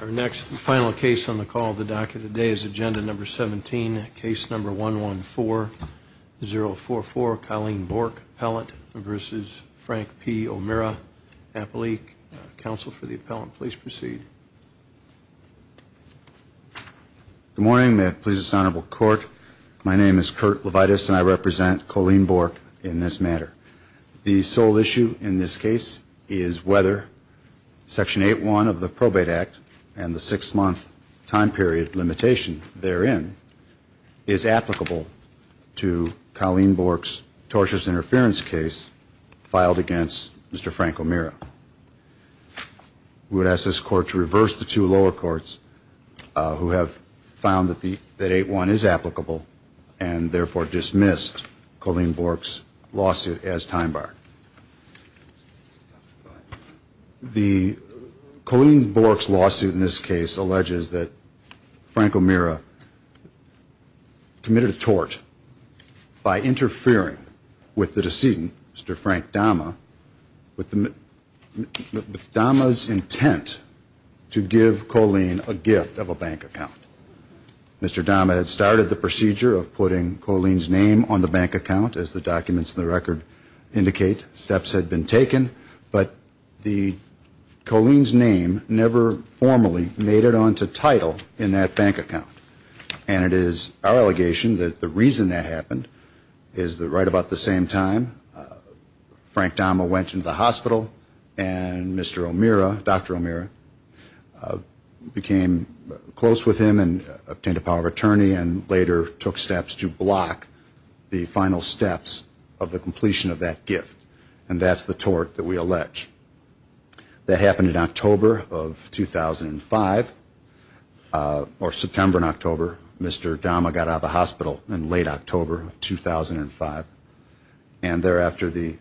Our next final case on the call of the docket today is agenda number 17 case number one one four zero four four Colleen Bork appellant versus Frank P O'Meara appellee counsel for the appellant please proceed. Good morning may it please this honorable court my name is Kurt Levitas and I represent Colleen Bork in this matter. The sole issue in this case is whether section 8 one of the probate act and the six-month time period limitation therein is applicable to Colleen Bork's tortious interference case filed against Mr. Frank O'Meara. We would ask this court to reverse the two lower courts who have found that the that 8-1 is applicable and therefore dismissed Colleen Bork's time bar. The Colleen Bork's lawsuit in this case alleges that Frank O'Meara committed a tort by interfering with the decedent Mr. Frank Dama with the Dama's intent to give Colleen a gift of a bank account. Mr. Dama had started the procedure of putting Colleen's name on the bank account as the documents in the record indicate steps had been taken but the Colleen's name never formally made it on to title in that bank account and it is our allegation that the reason that happened is that right about the same time Frank Dama went into the hospital and Mr. O'Meara, Dr. O'Meara became close with him and obtained a attorney and later took steps to block the final steps of the completion of that gift and that's the tort that we allege. That happened in October of 2005 or September and October Mr. Dama got out of the hospital in late October of 2005 and thereafter the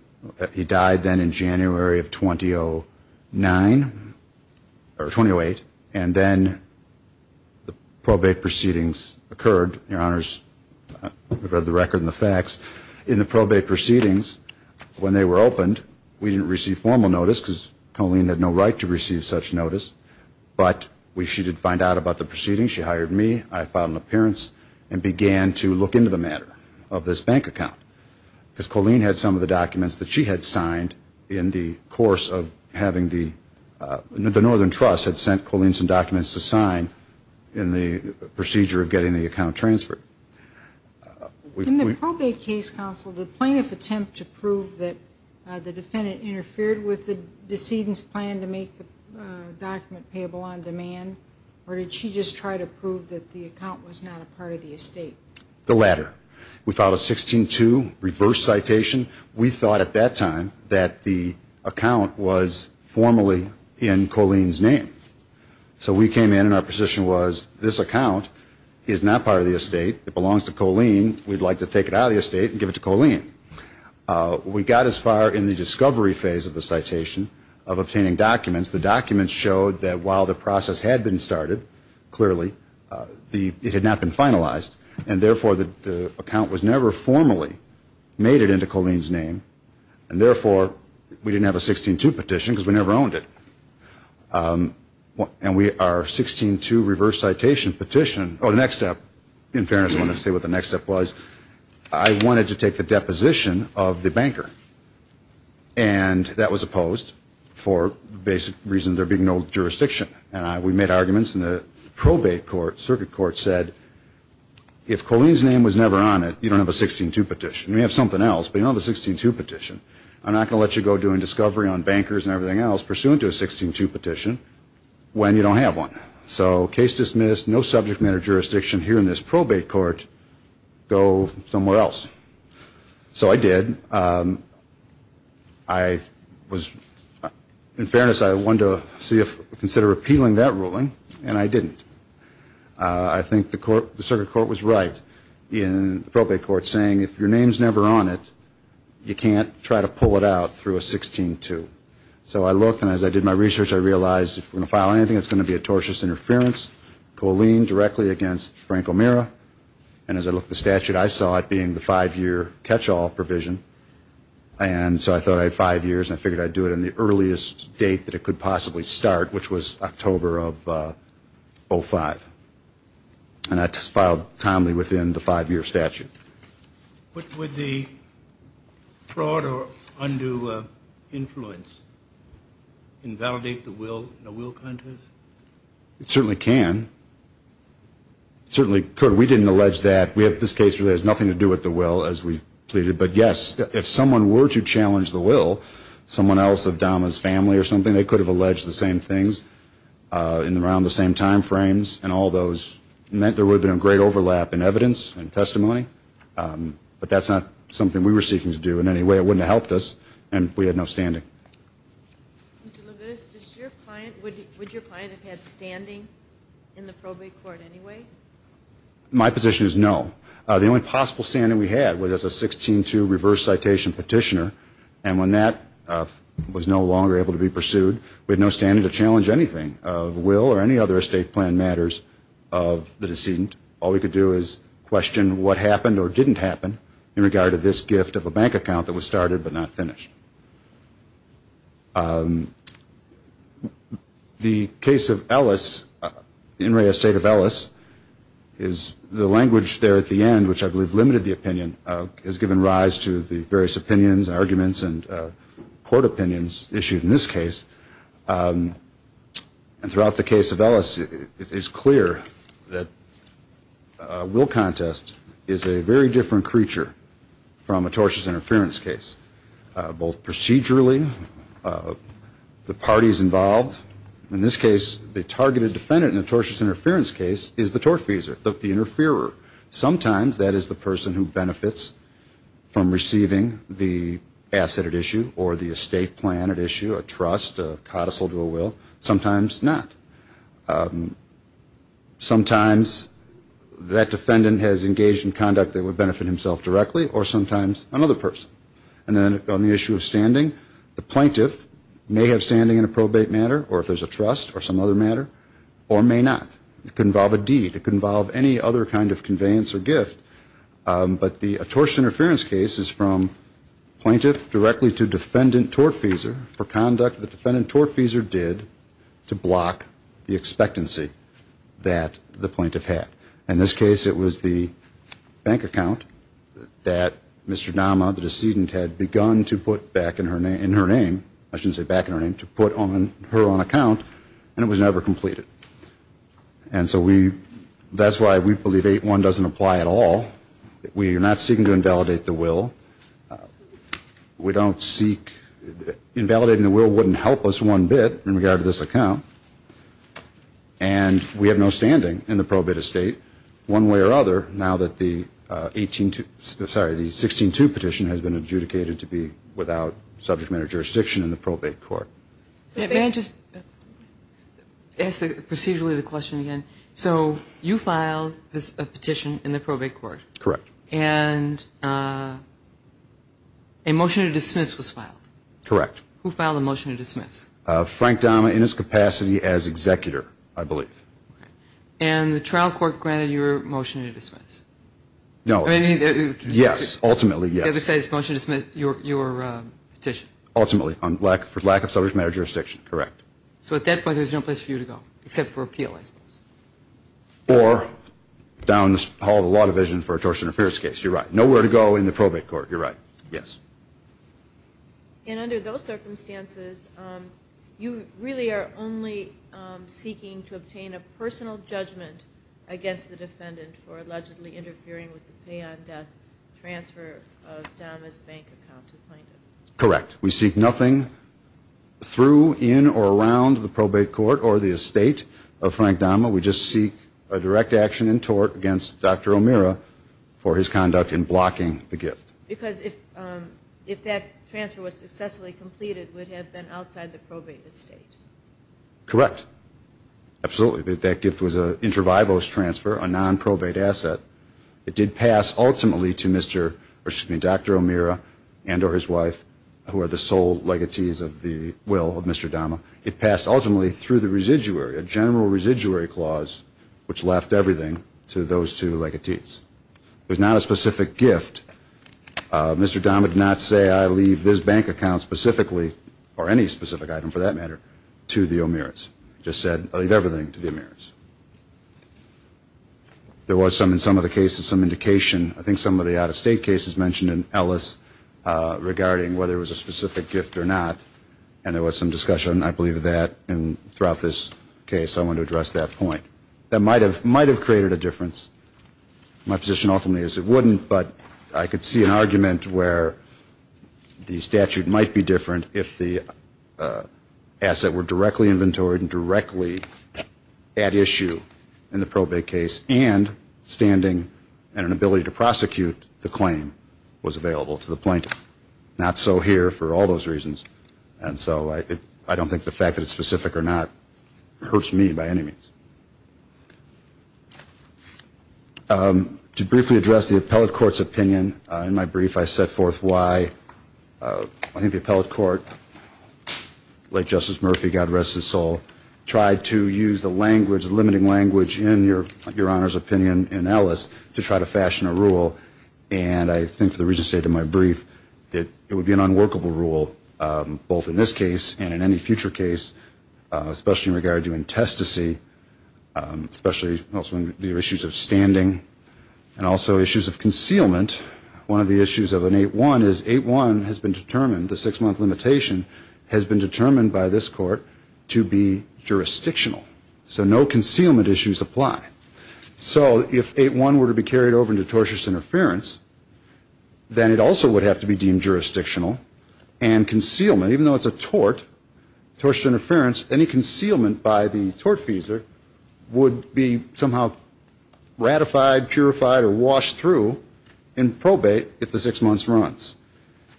he died then in January of 2009 or 2008 and then the proceedings occurred, your honors, we've read the record and the facts in the probate proceedings when they were opened we didn't receive formal notice because Colleen had no right to receive such notice but we she did find out about the proceedings she hired me I filed an appearance and began to look into the matter of this bank account because Colleen had some of the documents that she had signed in the course of having the the Northern Trust had sent Colleen some documents to sign in the procedure of getting the account transferred. In the probate case counsel, did plaintiff attempt to prove that the defendant interfered with the decedent's plan to make the document payable on demand or did she just try to prove that the account was not a part of the estate? The latter. We filed a 16-2 reverse citation. We thought at that time that the account was formally in Colleen's name so we came in and our position was this account is not part of the estate it belongs to Colleen we'd like to take it out of the estate and give it to Colleen. We got as far in the discovery phase of the citation of obtaining documents the documents showed that while the process had been started clearly the it had not been finalized and therefore the account was never formally made it into Colleen's name and therefore we didn't have a 16-2 petition because we never owned it. And we our 16-2 reverse citation petition or the next step in fairness I want to say what the next step was I wanted to take the deposition of the banker and that was opposed for basic reason there being no jurisdiction and I we made arguments in the probate court circuit court said if Colleen's name was never on it you don't have a 16-2 petition we have something else but you don't have a 16-2 petition I'm not gonna let you go doing discovery on bankers and everything else pursuant to a 16-2 petition when you don't have one so case dismissed no subject matter jurisdiction here in this probate court go somewhere else so I did I was in appealing that ruling and I didn't I think the court the circuit court was right in probate court saying if your name's never on it you can't try to pull it out through a 16-2 so I looked and as I did my research I realized if we're gonna file anything it's going to be a tortious interference Colleen directly against Frank O'Meara and as I look the statute I saw it being the five-year catch-all provision and so I thought I had five years I figured I'd do it in the earliest date that it could possibly start which was October of 05 and I just filed calmly within the five-year statute but with the fraud or undue influence invalidate the will it certainly can certainly could we didn't allege that we have this case really has nothing to do with the will as we or something they could have alleged the same things in the round the same time frames and all those meant there would have been a great overlap in evidence and testimony but that's not something we were seeking to do in any way it wouldn't have helped us and we had no standing my position is no the only possible standing we had was as a 16-2 reverse citation petitioner and when that was no longer able to be pursued we had no standing to challenge anything of will or any other estate plan matters of the decedent all we could do is question what happened or didn't happen in regard to this gift of a bank account that was started but not finished the case of Ellis in Ray estate of Ellis is the language there at the end which I believe limited the opinion has given rise to the various opinions arguments and court opinions issued in this case and throughout the case of Ellis it is clear that will contest is a very different creature from a tortious interference case both procedurally the parties involved in this case the targeted defendant in a tortious interference case is the tortfeasor the interferer sometimes that is the person who benefits from receiving the asset at issue or the estate plan at issue a trust codicil to a will sometimes not sometimes that defendant has engaged in conduct that would benefit himself directly or sometimes another person and then on the issue of standing the plaintiff may have standing in a probate matter or if there's a trust or some other matter or may not involve a deed involve any other kind of conveyance or gift but the tortious interference cases from plaintiff directly to defendant tortfeasor for conduct the defendant tortfeasor did to block the expectancy that the plaintiff had in this case it was the bank account that Mr. Nama the decedent had begun to put back in her name in her name I shouldn't say back in her name to put on her own account and was never completed and so we that's why we believe 8-1 doesn't apply at all we are not seeking to invalidate the will we don't seek invalidating the will wouldn't help us one bit in regard to this account and we have no standing in the probate estate one way or other now that the 18 to sorry the 16 to petition has been adjudicated to be without subject matter jurisdiction in the procedurally the question again so you file this petition in the probate court correct and a motion to dismiss was filed correct who filed a motion to dismiss Frank Dama in his capacity as executor I believe and the trial court granted your motion to dismiss no I mean yes ultimately yes it says motion to dismiss your your petition ultimately on black for lack of subject matter jurisdiction correct so at that point there's no place for you to go except for appeal I suppose or down the hall of a lot of vision for a torsion of spirits case you're right nowhere to go in the probate court you're right yes and under those circumstances you really are only seeking to obtain a personal in or around the probate court or the estate of Frank Dama we just seek a direct action in tort against dr. O'Meara for his conduct in blocking the gift because if if that transfer was successfully completed would have been outside the probate estate correct absolutely that gift was a intervivalous transfer a non probate asset it did pass ultimately to mr. or dr. O'Meara and or his wife who are the sole legatees of the will of mr. Dama it passed ultimately through the residuary a general residuary clause which left everything to those two legatees there's not a specific gift mr. Dama did not say I leave this bank account specifically or any specific item for that matter to the O'Meara's just said I leave everything to the Amir's there was some in some of the cases some indication I think some of the out-of-state cases mentioned in Ellis regarding whether it was a specific gift or not and there was some discussion I believe that and throughout this case I want to address that point that might have might have created a difference my position ultimately is it wouldn't but I could see an argument where the statute might be different if the asset were directly inventoried and directly at issue in the was available to the plaintiff not so here for all those reasons and so I I don't think the fact that it's specific or not hurts me by any means to briefly address the appellate courts opinion in my brief I set forth why I think the appellate court late justice Murphy God rest his soul tried to use the language limiting language in your your honors opinion in Ellis to try to fashion a thing for the reason to say to my brief it would be an unworkable rule both in this case and in any future case especially in regard to intestacy especially also the issues of standing and also issues of concealment one of the issues of an 8-1 is 8-1 has been determined the six-month limitation has been determined by this court to be jurisdictional so no concealment issues apply so if 8-1 were to be carried over into tortious interference then it also would have to be deemed jurisdictional and concealment even though it's a tort tortuous interference any concealment by the tortfeasor would be somehow ratified purified or washed through in probate if the six months runs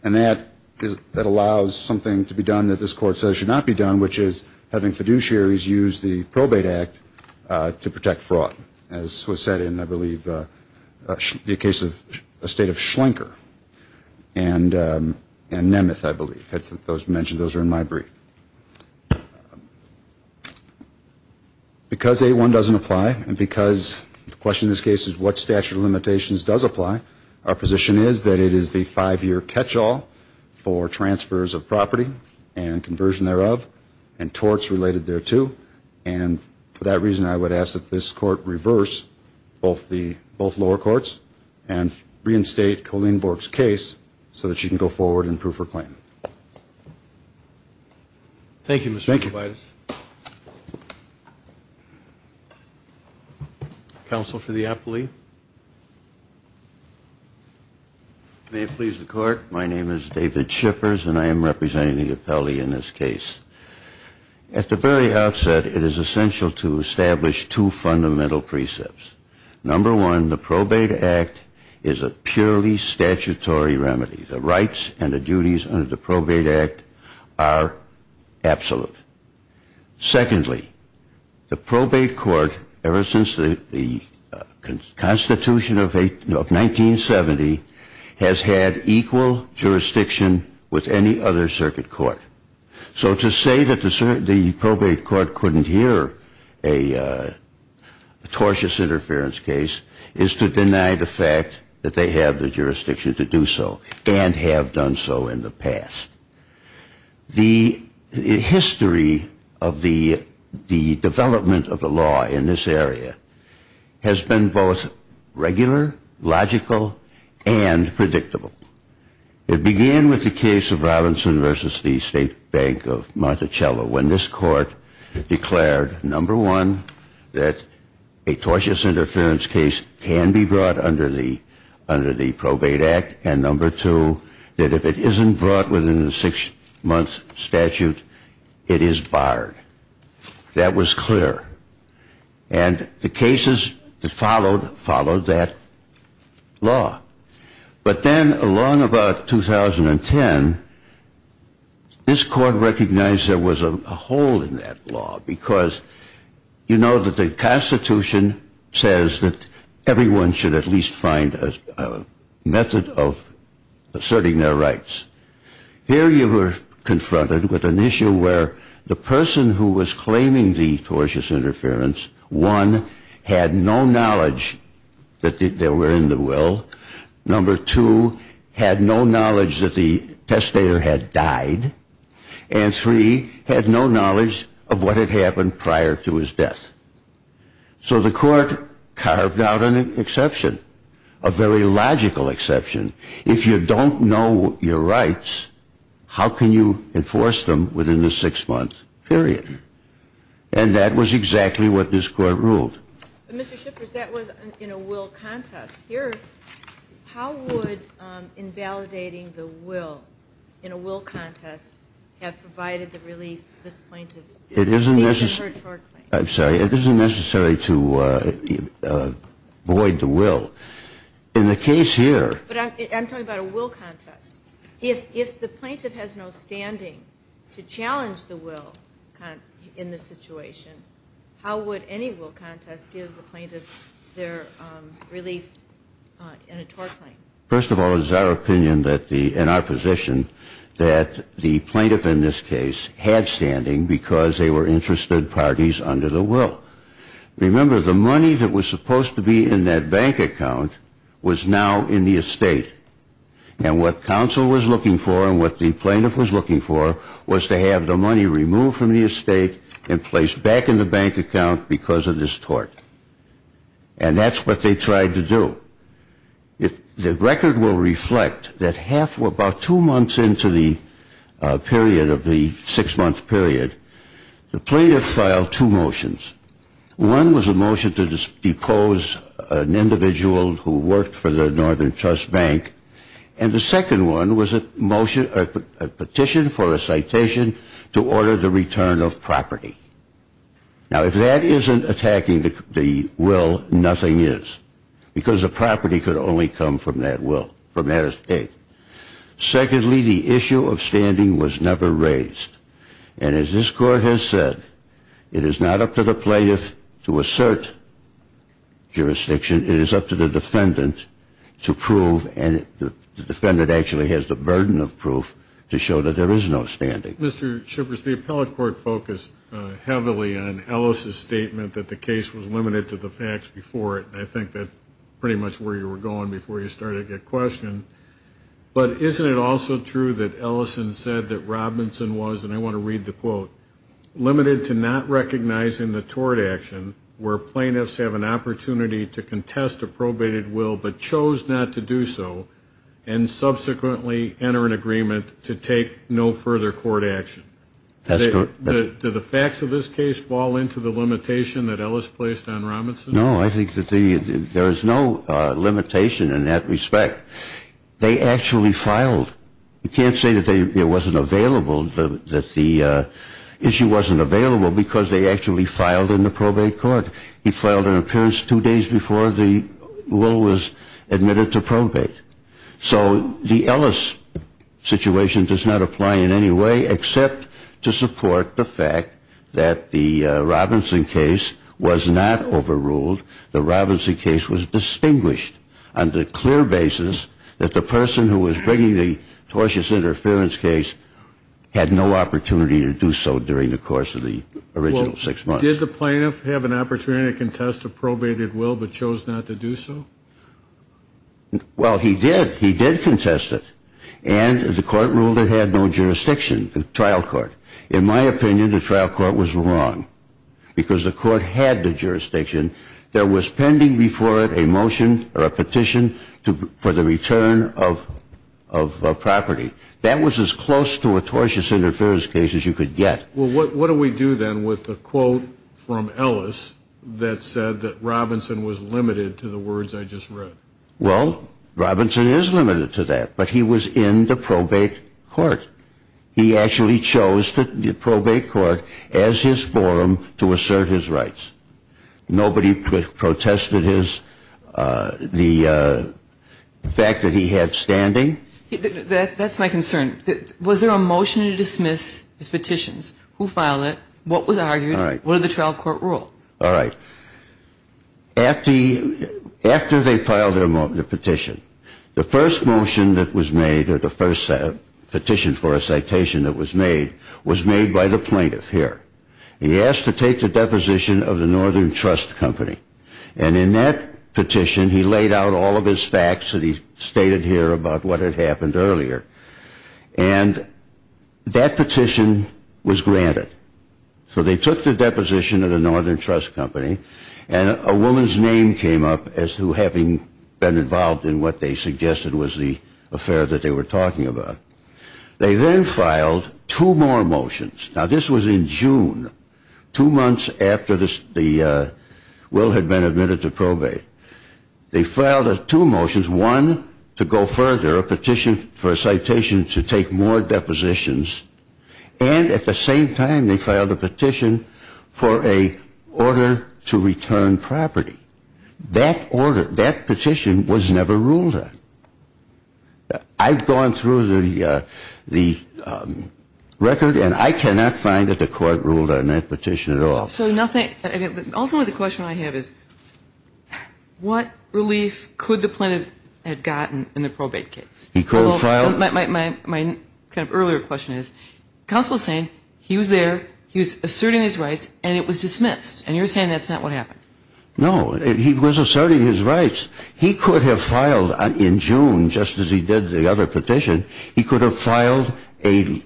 and that is that allows something to be done that this court says should not be done which is having fiduciaries use the probate act to protect fraud as was said in I believe the case of a state of schlenker and and Nemeth I believe that's what those mentioned those are in my brief because 8-1 doesn't apply and because the question this case is what statute of limitations does apply our position is that it is the five-year catch-all for transfers of property and conversion thereof and torts related thereto and for that reason I would ask that this court reverse both the both lower courts and reinstate Colleen Bork's case so that she can go forward and prove her claim. Thank you Mr. Tobias. Counsel for the appellee. May it please the court my name is David Shippers and I am the appellee in this case. At the very outset it is essential to establish two fundamental precepts. Number one the probate act is a purely statutory remedy the rights and the duties under the probate act are absolute. Secondly the probate court ever since the Constitution of a of 1970 has had equal jurisdiction with any other circuit court so to say that the probate court couldn't hear a tortious interference case is to deny the fact that they have the jurisdiction to do so and have done so in the past. The history of the the development of the law in this area has been both regular, logical and predictable. It began with the case of Robinson versus the State Bank of Monticello when this court declared number one that a tortious interference case can be brought under the under the probate act and number two that if it isn't brought within the six-month statute it is barred. That was But then along about 2010 this court recognized there was a hole in that law because you know that the Constitution says that everyone should at least find a method of asserting their rights. Here you were confronted with an issue where the person who was claiming the tortious interference one had no knowledge that they were in the will, number two had no knowledge that the testator had died and three had no knowledge of what had happened prior to his death. So the court carved out an exception, a very logical exception. If you don't know your rights how can you enforce them within the six-month period and that was exactly what this court ruled. Mr. Shippers that was in a will contest. Here how would invalidating the will in a will contest have provided the relief this plaintiff received in her tort claim? I'm sorry it isn't necessary to avoid the will. In the case here. But I'm talking about a will contest. If the plaintiff has no standing to what would any will contest give the plaintiff their relief in a tort claim? First of all it is our opinion that the in our position that the plaintiff in this case had standing because they were interested parties under the will. Remember the money that was supposed to be in that bank account was now in the estate and what counsel was looking for and what the plaintiff was looking for was to have the money removed from the estate and placed back in the bank account because of this tort. And that's what they tried to do. The record will reflect that half or about two months into the period of the six month period the plaintiff filed two motions. One was a motion to depose an individual who worked for the jurisdiction to order the return of property. Now if that isn't attacking the will, nothing is. Because the property could only come from that will, from that estate. Secondly, the issue of standing was never raised. And as this court has said, it is not up to the plaintiff to assert jurisdiction. It is up to the defendant to prove and the defendant actually has the burden of proof to show that there is no standing. Mr. Shippers, the appellate court focused heavily on Ellis' statement that the case was limited to the facts before it. And I think that's pretty much where you were going before you started your question. But isn't it also true that Ellison said that Robinson was, and I want to read the quote, limited to not recognizing the tort action where plaintiffs have an opportunity to contest a probated will but chose not to do so and subsequently enter an agreement to take no further court action? That's correct. Do the facts of this case fall into the limitation that Ellis placed on Robinson? No, I think that there is no limitation in that respect. They actually filed, you can't say that it wasn't available, that the issue wasn't available because they actually filed in the probate court. He filed an appearance two days before the will was admitted to probate. So the Ellis situation does not apply in any way except to support the fact that the Robinson case was not overruled. The Robinson case was distinguished on the clear basis that the person who was bringing the tortious interference case had no opportunity to do so during the course of the original six months. Did the plaintiff have an opportunity to contest a probated will but chose not to do so? Well, he did. He did contest it. And the court ruled it had no jurisdiction, the trial court. In my opinion, the trial court was wrong because the court had the jurisdiction that was pending before it a motion or a petition for the return of property. That was as close to a tortious interference case as you could get. Well, what do we do then with the quote from Ellis that said that Robinson was limited to the words I just read? Well, Robinson is limited to that. But he was in the probate court. He actually chose the probate court as his forum to assert his rights. Nobody protested the fact that he had standing. That's my concern. Was there a motion to dismiss his petitions? Who filed it? What was argued? What did the trial court rule? All right. After they filed the petition, the first motion that was made or the first petition for a citation that was made was made by the plaintiff here. He asked to take the deposition of the Northern Trust Company. And in that petition, he laid out all of his facts that he stated here about what had happened earlier. And that petition was granted. So they took the deposition of the Northern Trust Company and a woman's name came up as to having been involved in what they suggested was the affair that they were talking about. They then filed two more motions. Now, this was in June, two months after Will had been admitted to probate. They filed two motions, one to go further, a petition for a citation to take more depositions. And at the same time, they filed a petition for an order to return property. That petition was never ruled on. I've gone through the record, and I cannot find that the court ruled on that petition at all. So ultimately the question I have is, what relief could the plaintiff have gotten in the probate case? My earlier question is, counsel is saying he was there, he was asserting his rights, and it was dismissed. And you're saying that's not what happened. No, he was asserting his rights. He could have filed in June, just as he did the other petition, he could have filed a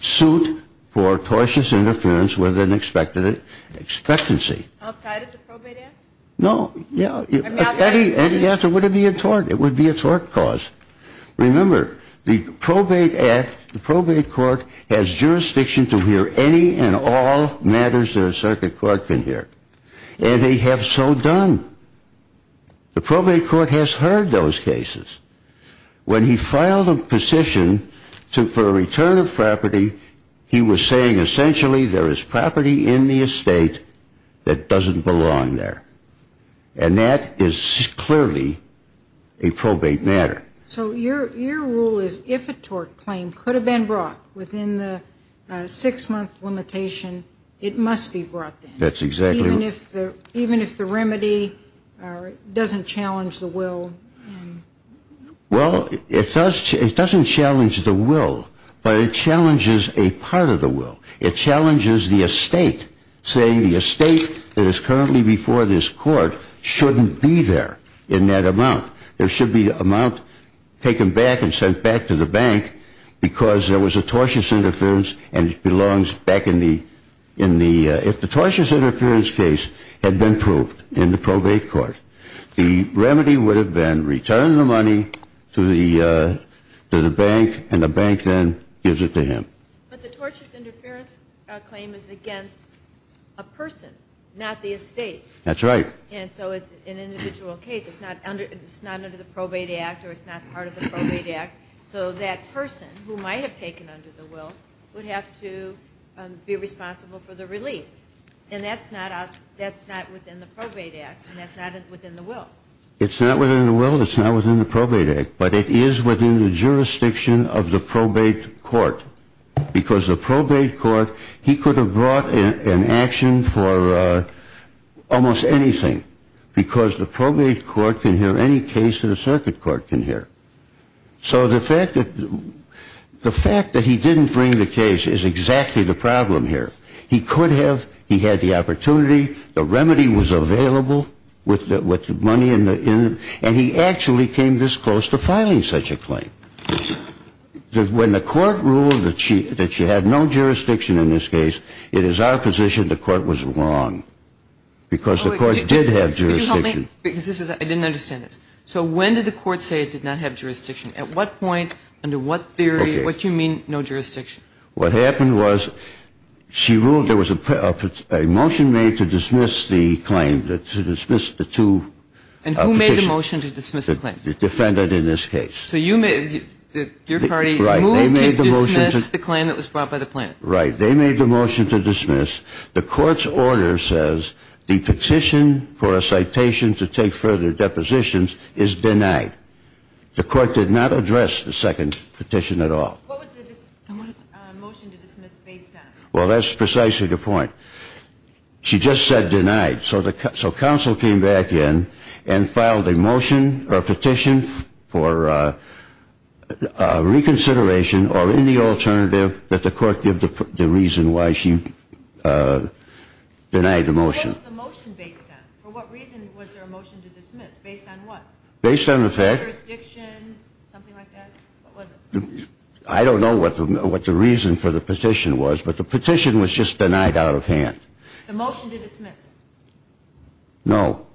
suit for tortious interference with an expected expectancy. Outside of the probate act? No, yeah. Any answer would be a tort. It would be a tort cause. Remember, the probate act, the probate court has jurisdiction to hear any and all matters that a circuit court can hear. And they have so done. The probate court has heard those cases. When he filed a petition for a return of property, he was saying essentially there is property in the estate that doesn't belong there. And that is clearly a probate matter. So your rule is if a tort claim could have been brought within the six-month limitation, it must be brought then. That's exactly right. Even if the remedy doesn't challenge the will? Well, it doesn't challenge the will, but it challenges a part of the will. It challenges the estate, saying the estate that is currently before this court shouldn't be there in that amount. There should be an amount taken back and sent back to the bank because there was a tortious interference and it belongs back in the, if the tortious interference case had been proved in the probate court, the remedy would have been return the money to the bank and the bank then gives it to him. But the tortious interference claim is against a person, not the estate. That's right. And so it's an individual case. It's not under the probate act or it's not part of the probate act. So that person who might have taken under the will would have to be responsible for the relief. And that's not within the probate act and that's not within the will. It's not within the will, it's not within the probate act, but it is within the jurisdiction of the probate court. Because the probate court, he could have brought an action for almost anything. Because the probate court can hear any case that a circuit court can hear. So the fact that he didn't bring the case is exactly the problem here. He could have, he had the opportunity, the remedy was available with the money and he actually came this close to filing such a claim. When the court ruled that she had no jurisdiction in this case, it is our position the court was wrong. Because the court did have jurisdiction. Could you help me? Because I didn't understand this. So when did the court say it did not have jurisdiction? At what point, under what theory, what do you mean no jurisdiction? What happened was she ruled there was a motion made to dismiss the claim, to dismiss the two petitions. And who made the motion to dismiss the claim? The defendant in this case. So you made, your party moved to dismiss the claim that was brought by the plaintiff. Right. They made the motion to dismiss. The court's order says the petition for a citation to take further depositions is denied. The court did not address the second petition at all. What was the motion to dismiss based on? Well, that's precisely the point. She just said denied. So counsel came back in and filed a motion or petition for reconsideration or any alternative that the court give the reason why she denied the motion. What was the motion based on? For what reason was there a motion to dismiss? Based on what? Based on the fact. Jurisdiction, something like that? What was it? I don't know what the reason for the petition was, but the petition was just denied out of hand. The motion to dismiss? No.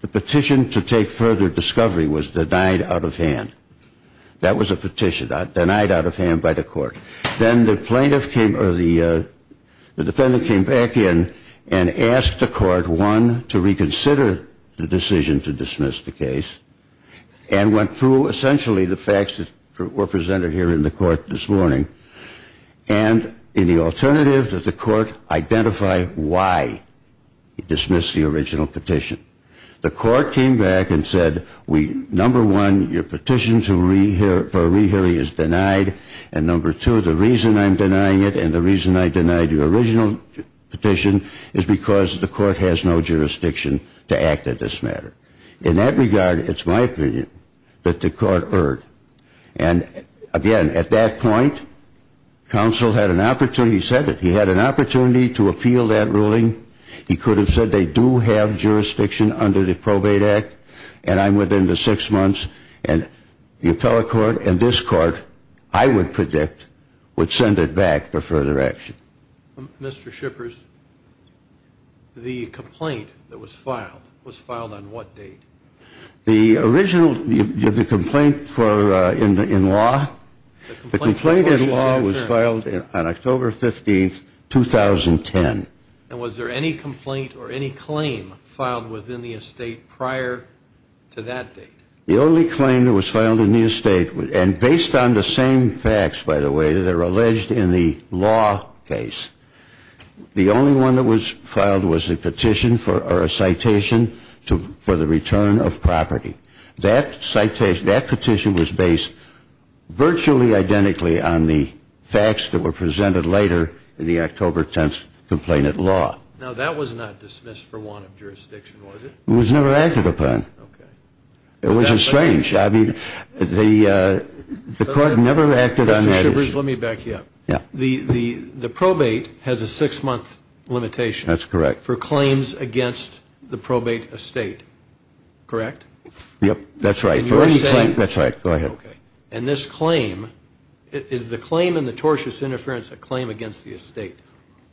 The petition to take further discovery was denied out of hand. That was a petition, denied out of hand by the court. Then the plaintiff came, or the defendant came back in and asked the court, one, to reconsider the decision to dismiss the case, and went through essentially the facts that were presented here in the court this morning, and in the alternative that the court identify why it dismissed the original petition. The court came back and said, number one, your petition for a rehearing is denied, and number two, the reason I'm denying it and the reason I denied your original petition is because the court has no jurisdiction to act on this matter. In that regard, it's my opinion that the court erred. And again, at that point, counsel had an opportunity, he said it, he had an opportunity to appeal that ruling. He could have said they do have jurisdiction under the Probate Act, and I'm within the six months, and the appellate court and this court, I would predict, would send it back for further action. Mr. Shippers, the complaint that was filed, was filed on what date? The original, the complaint in law? The complaint in law was filed on October 15, 2010. And was there any complaint or any claim filed within the estate prior to that date? The only claim that was filed in the estate, and based on the same facts, by the way, that are alleged in the law case, the only one that was filed was a petition, or a citation for the return of property. That petition was based virtually identically on the facts that were presented later in the October 10th complaint in law. Now that was not dismissed for want of jurisdiction, was it? It was never acted upon. Okay. It was a strange, I mean, the court never acted on that issue. Mr. Shippers, let me back you up. Yeah. The probate has a six month limitation. That's correct. For claims against the probate estate, correct? Yep, that's right. For any claim, that's right. Go ahead. Okay. And this claim, is the claim in the tortious interference a claim against the estate?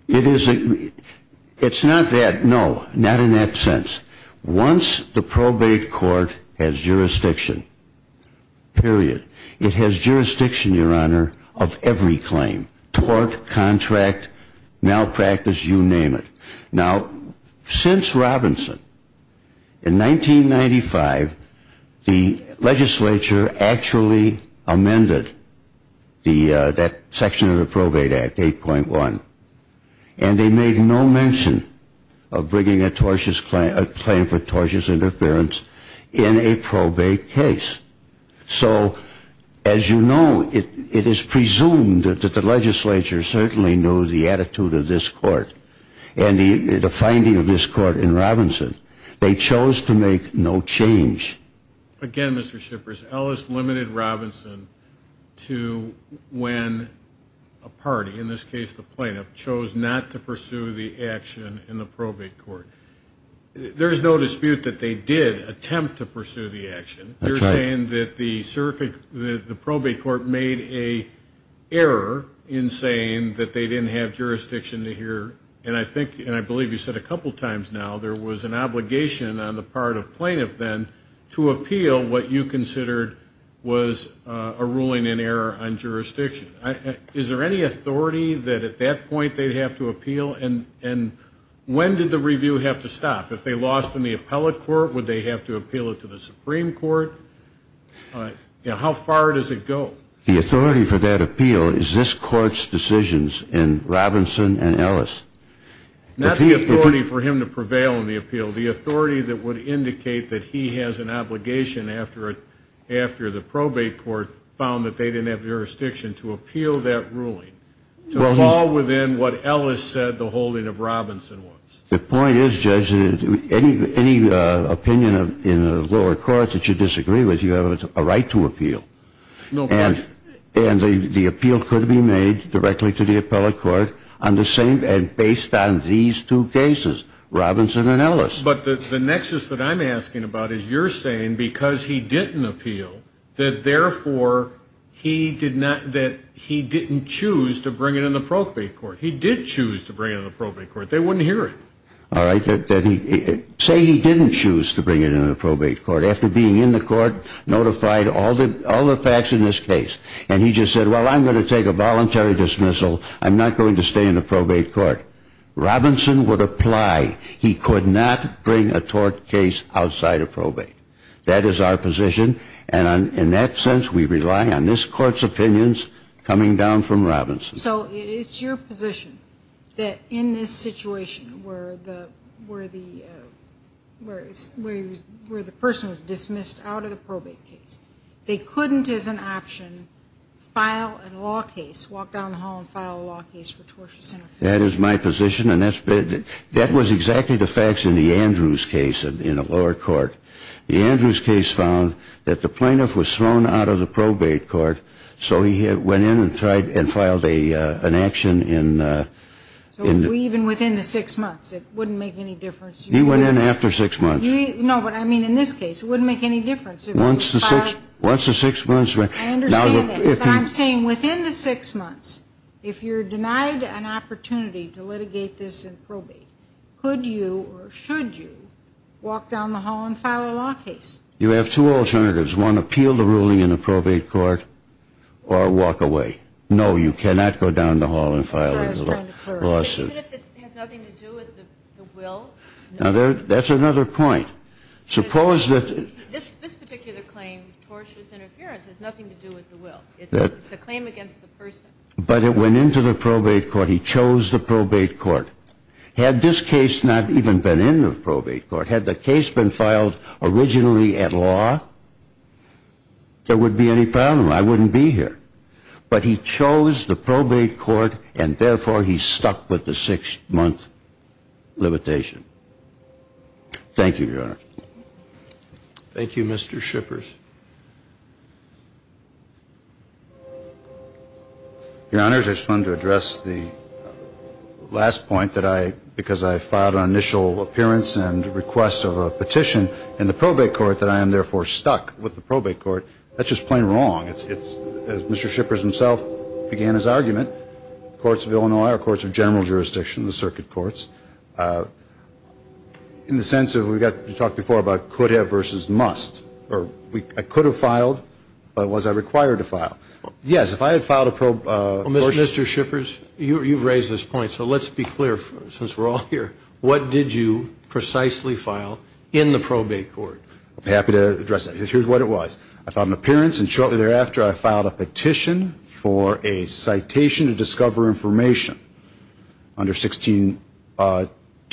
It is a, it's not that, no, not in that sense. Once the probate court has jurisdiction, period, it has jurisdiction, Your Honor, of every claim. Tort, contract, malpractice, you name it. Now, since Robinson, in 1995, the legislature actually amended the, that section of the Probate Act, 8.1. And they made no mention of bringing a tortious, a claim for tortious interference in a probate case. So, as you know, it is presumed that the legislature certainly knew the attitude of this court. And the finding of this court in Robinson, they chose to make no change. Again, Mr. Shippers, Ellis limited Robinson to when a party, in this case the plaintiff, chose not to pursue the action in the probate court. There's no dispute that they did attempt to pursue the action. You're saying that the probate court made a error in saying that they didn't have jurisdiction to hear. And I think, and I believe you said a couple times now, there was an obligation on the part of plaintiff then, to appeal what you considered was a ruling in error on jurisdiction. Is there any authority that at that point they'd have to appeal? And when did the review have to stop? If they lost in the appellate court, would they have to appeal it to the Supreme Court? How far does it go? The authority for that appeal is this court's decisions in Robinson and Ellis. Not the authority for him to prevail in the appeal. The authority that would indicate that he has an obligation after the probate court found that they didn't have jurisdiction to appeal that ruling. To fall within what Ellis said the holding of Robinson was. The point is, Judge, any opinion in the lower courts that you disagree with, you have a right to appeal. No question. And the appeal could be made directly to the appellate court on the same, and based on these two cases, Robinson and Ellis. But the nexus that I'm asking about is you're saying because he didn't appeal, that therefore he did not, that he didn't choose to bring it in the probate court. He did choose to bring it in the probate court. They wouldn't hear it. All right. Say he didn't choose to bring it in the probate court. After being in the court, notified all the facts in this case. And he just said, well, I'm going to take a voluntary dismissal. I'm not going to stay in the probate court. Robinson would apply. He could not bring a tort case outside of probate. That is our position. And in that sense, we rely on this court's opinions coming down from Robinson. So it's your position that in this situation where the person was dismissed out of the probate case, they couldn't as an option file a law case, walk down the hall and file a law case for tortious interference? That is my position. And that was exactly the facts in the Andrews case in the lower court. The Andrews case found that the plaintiff was thrown out of the probate court, so he went in and tried and filed an action. So even within the six months, it wouldn't make any difference? He went in after six months. No, but I mean in this case, it wouldn't make any difference. Once the six months. I understand that. But I'm saying within the six months, if you're denied an opportunity to litigate this in probate, could you or should you walk down the hall and file a law case? You have two alternatives. One, appeal the ruling in the probate court or walk away. No, you cannot go down the hall and file a lawsuit. Even if it has nothing to do with the will? Now, that's another point. This particular claim, tortious interference, has nothing to do with the will. It's a claim against the person. But it went into the probate court. He chose the probate court. Had this case not even been in the probate court, had the case been filed originally at law, there wouldn't be any problem. I wouldn't be here. But he chose the probate court, and therefore, he's stuck with the six-month limitation. Thank you, Your Honor. Thank you, Mr. Shippers. Your Honor, I just wanted to address the last point that I, because I filed an initial appearance and request of a petition in the probate court that I am, therefore, stuck with the probate court. That's just plain wrong. Mr. Shippers himself began his argument. Courts of Illinois are courts of general jurisdiction, the circuit courts. In the sense of, we talked before about could have versus must. I could have filed, but was I required to file? Yes, if I had filed a probation. Mr. Shippers, you've raised this point, so let's be clear since we're all here. What did you precisely file in the probate court? I'm happy to address that. Here's what it was. I filed an appearance, and shortly thereafter, I filed a petition for a citation to discover information under 16-2,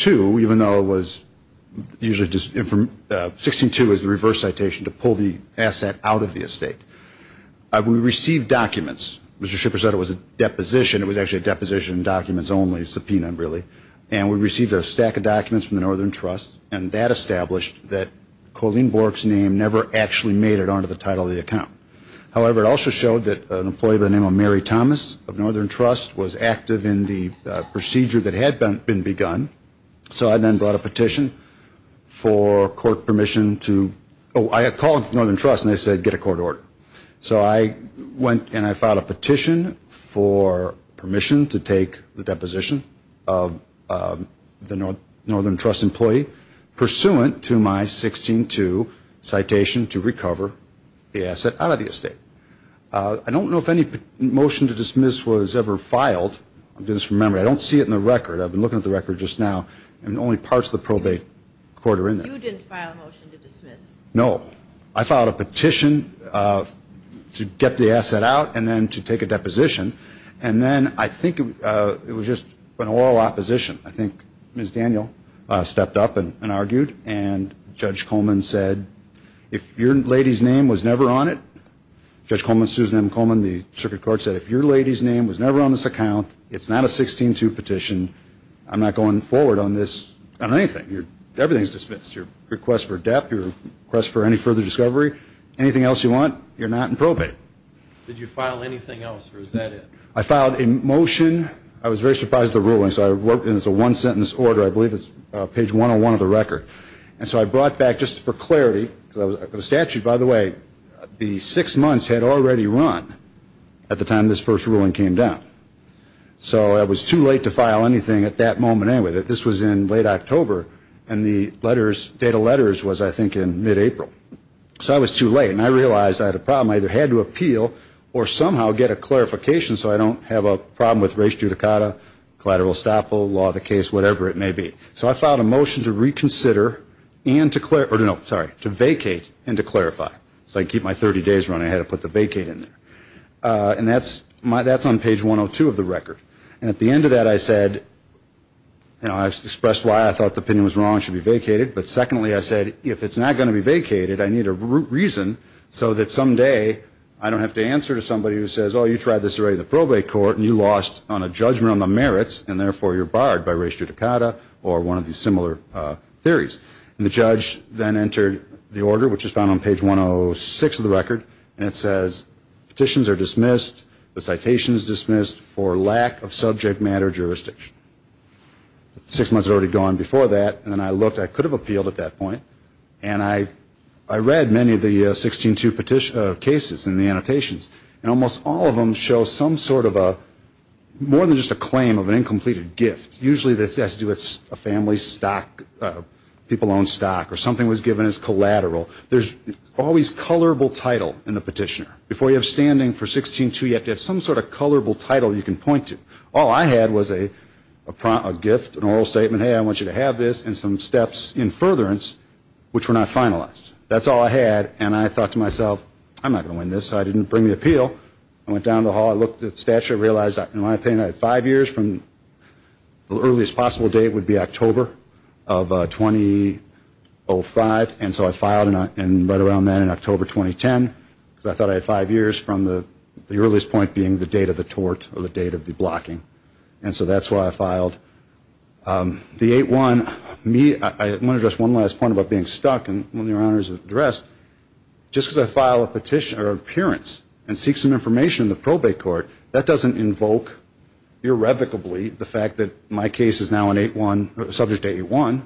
even though it was usually just, 16-2 is the reverse citation, to pull the asset out of the estate. We received documents. Mr. Shippers said it was a deposition. It was actually a deposition in documents only, subpoena really. And we received a stack of documents from the Northern Trust, and that established that Colleen Bork's name never actually made it onto the title of the account. However, it also showed that an employee by the name of Mary Thomas of Northern Trust was active in the procedure that had been begun. So I then brought a petition for court permission to, oh, I had called Northern Trust, and they said get a court order. So I went and I filed a petition for permission to take the deposition of the Northern Trust employee, pursuant to my 16-2 citation to recover the asset out of the estate. I don't know if any motion to dismiss was ever filed. I'm doing this from memory. I don't see it in the record. I've been looking at the record just now, and only parts of the probate court are in there. You didn't file a motion to dismiss? No. I filed a petition to get the asset out and then to take a deposition, and then I think it was just an oral opposition. I think Ms. Daniel stepped up and argued, and Judge Coleman said, if your lady's name was never on it, Judge Coleman, Susan M. Coleman, the circuit court, said if your lady's name was never on this account, it's not a 16-2 petition, I'm not going forward on this, on anything. Everything's dismissed. Your request for depth, your request for any further discovery, anything else you want, you're not in probate. Did you file anything else, or is that it? I filed a motion. I was very surprised at the ruling, so I wrote it as a one-sentence order. I believe it's page 101 of the record. And so I brought back, just for clarity, because the statute, by the way, the six months had already run at the time this first ruling came down. So it was too late to file anything at that moment anyway. This was in late October, and the letters, data letters, was, I think, in mid-April. So I was too late, and I realized I had a problem. I either had to appeal or somehow get a clarification so I don't have a problem with res judicata, collateral estoppel, law of the case, whatever it may be. So I filed a motion to reconsider and to vacate and to clarify. So I keep my 30 days running, I had to put the vacate in there. And that's on page 102 of the record. And at the end of that, I said, you know, I expressed why I thought the opinion was wrong and should be vacated. But secondly, I said, if it's not going to be vacated, I need a root reason so that someday I don't have to answer to somebody who says, oh, you tried this already in the probate court, and you lost on a judgment on the merits, and therefore you're barred by res judicata or one of these similar theories. And the judge then entered the order, which is found on page 106 of the record, and it says petitions are dismissed, the citation is dismissed for lack of subject matter jurisdiction. Six months had already gone before that. And then I looked. I could have appealed at that point. And I read many of the 16-2 cases and the annotations. And almost all of them show some sort of a, more than just a claim of an incompleted gift. Usually this has to do with a family stock, people own stock, or something was given as collateral. There's always colorable title in the petitioner. Before you have standing for 16-2, you have to have some sort of colorable title you can point to. All I had was a gift, an oral statement, hey, I want you to have this, and some steps in furtherance, which were not finalized. That's all I had. And I thought to myself, I'm not going to win this, so I didn't bring the appeal. I went down to the hall. I looked at the statute. I realized, in my opinion, I had five years from the earliest possible date would be October of 2005. And so I filed right around then in October 2010. Because I thought I had five years from the earliest point being the date of the tort, or the date of the blocking. And so that's why I filed. The 8-1, I want to address one last point about being stuck. And one of your honors addressed. Just because I file a petition, or an appearance, and seek some information in the probate court, that doesn't invoke irrevocably the fact that my case is now an 8-1, subject to 8-1.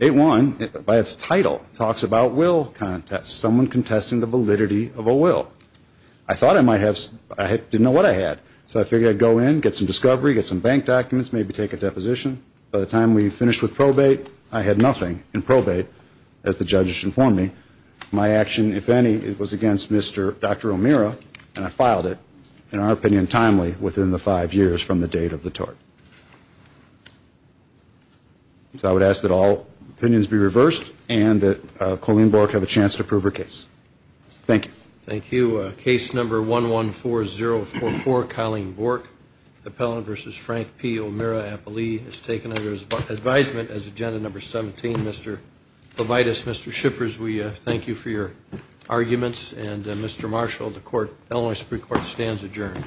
8-1, by its title, talks about will contests. Someone contesting the validity of a will. I thought I might have, I didn't know what I had. So I figured I'd go in, get some discovery, get some bank documents, maybe take a deposition. By the time we finished with probate, I had nothing in probate, as the judges informed me. My action, if any, was against Mr. Dr. O'Meara. And I filed it, in our opinion, timely, within the five years from the date of the tort. So I would ask that all opinions be reversed. And that Colleen Bork have a chance to approve her case. Thank you. Thank you. Case number 114044, Colleen Bork. Appellant versus Frank P. O'Meara. Appellee is taken under advisement as agenda number 17. Mr. Levitas, Mr. Shippers, we thank you for your arguments. And Mr. Marshall, the Illinois Supreme Court stands adjourned.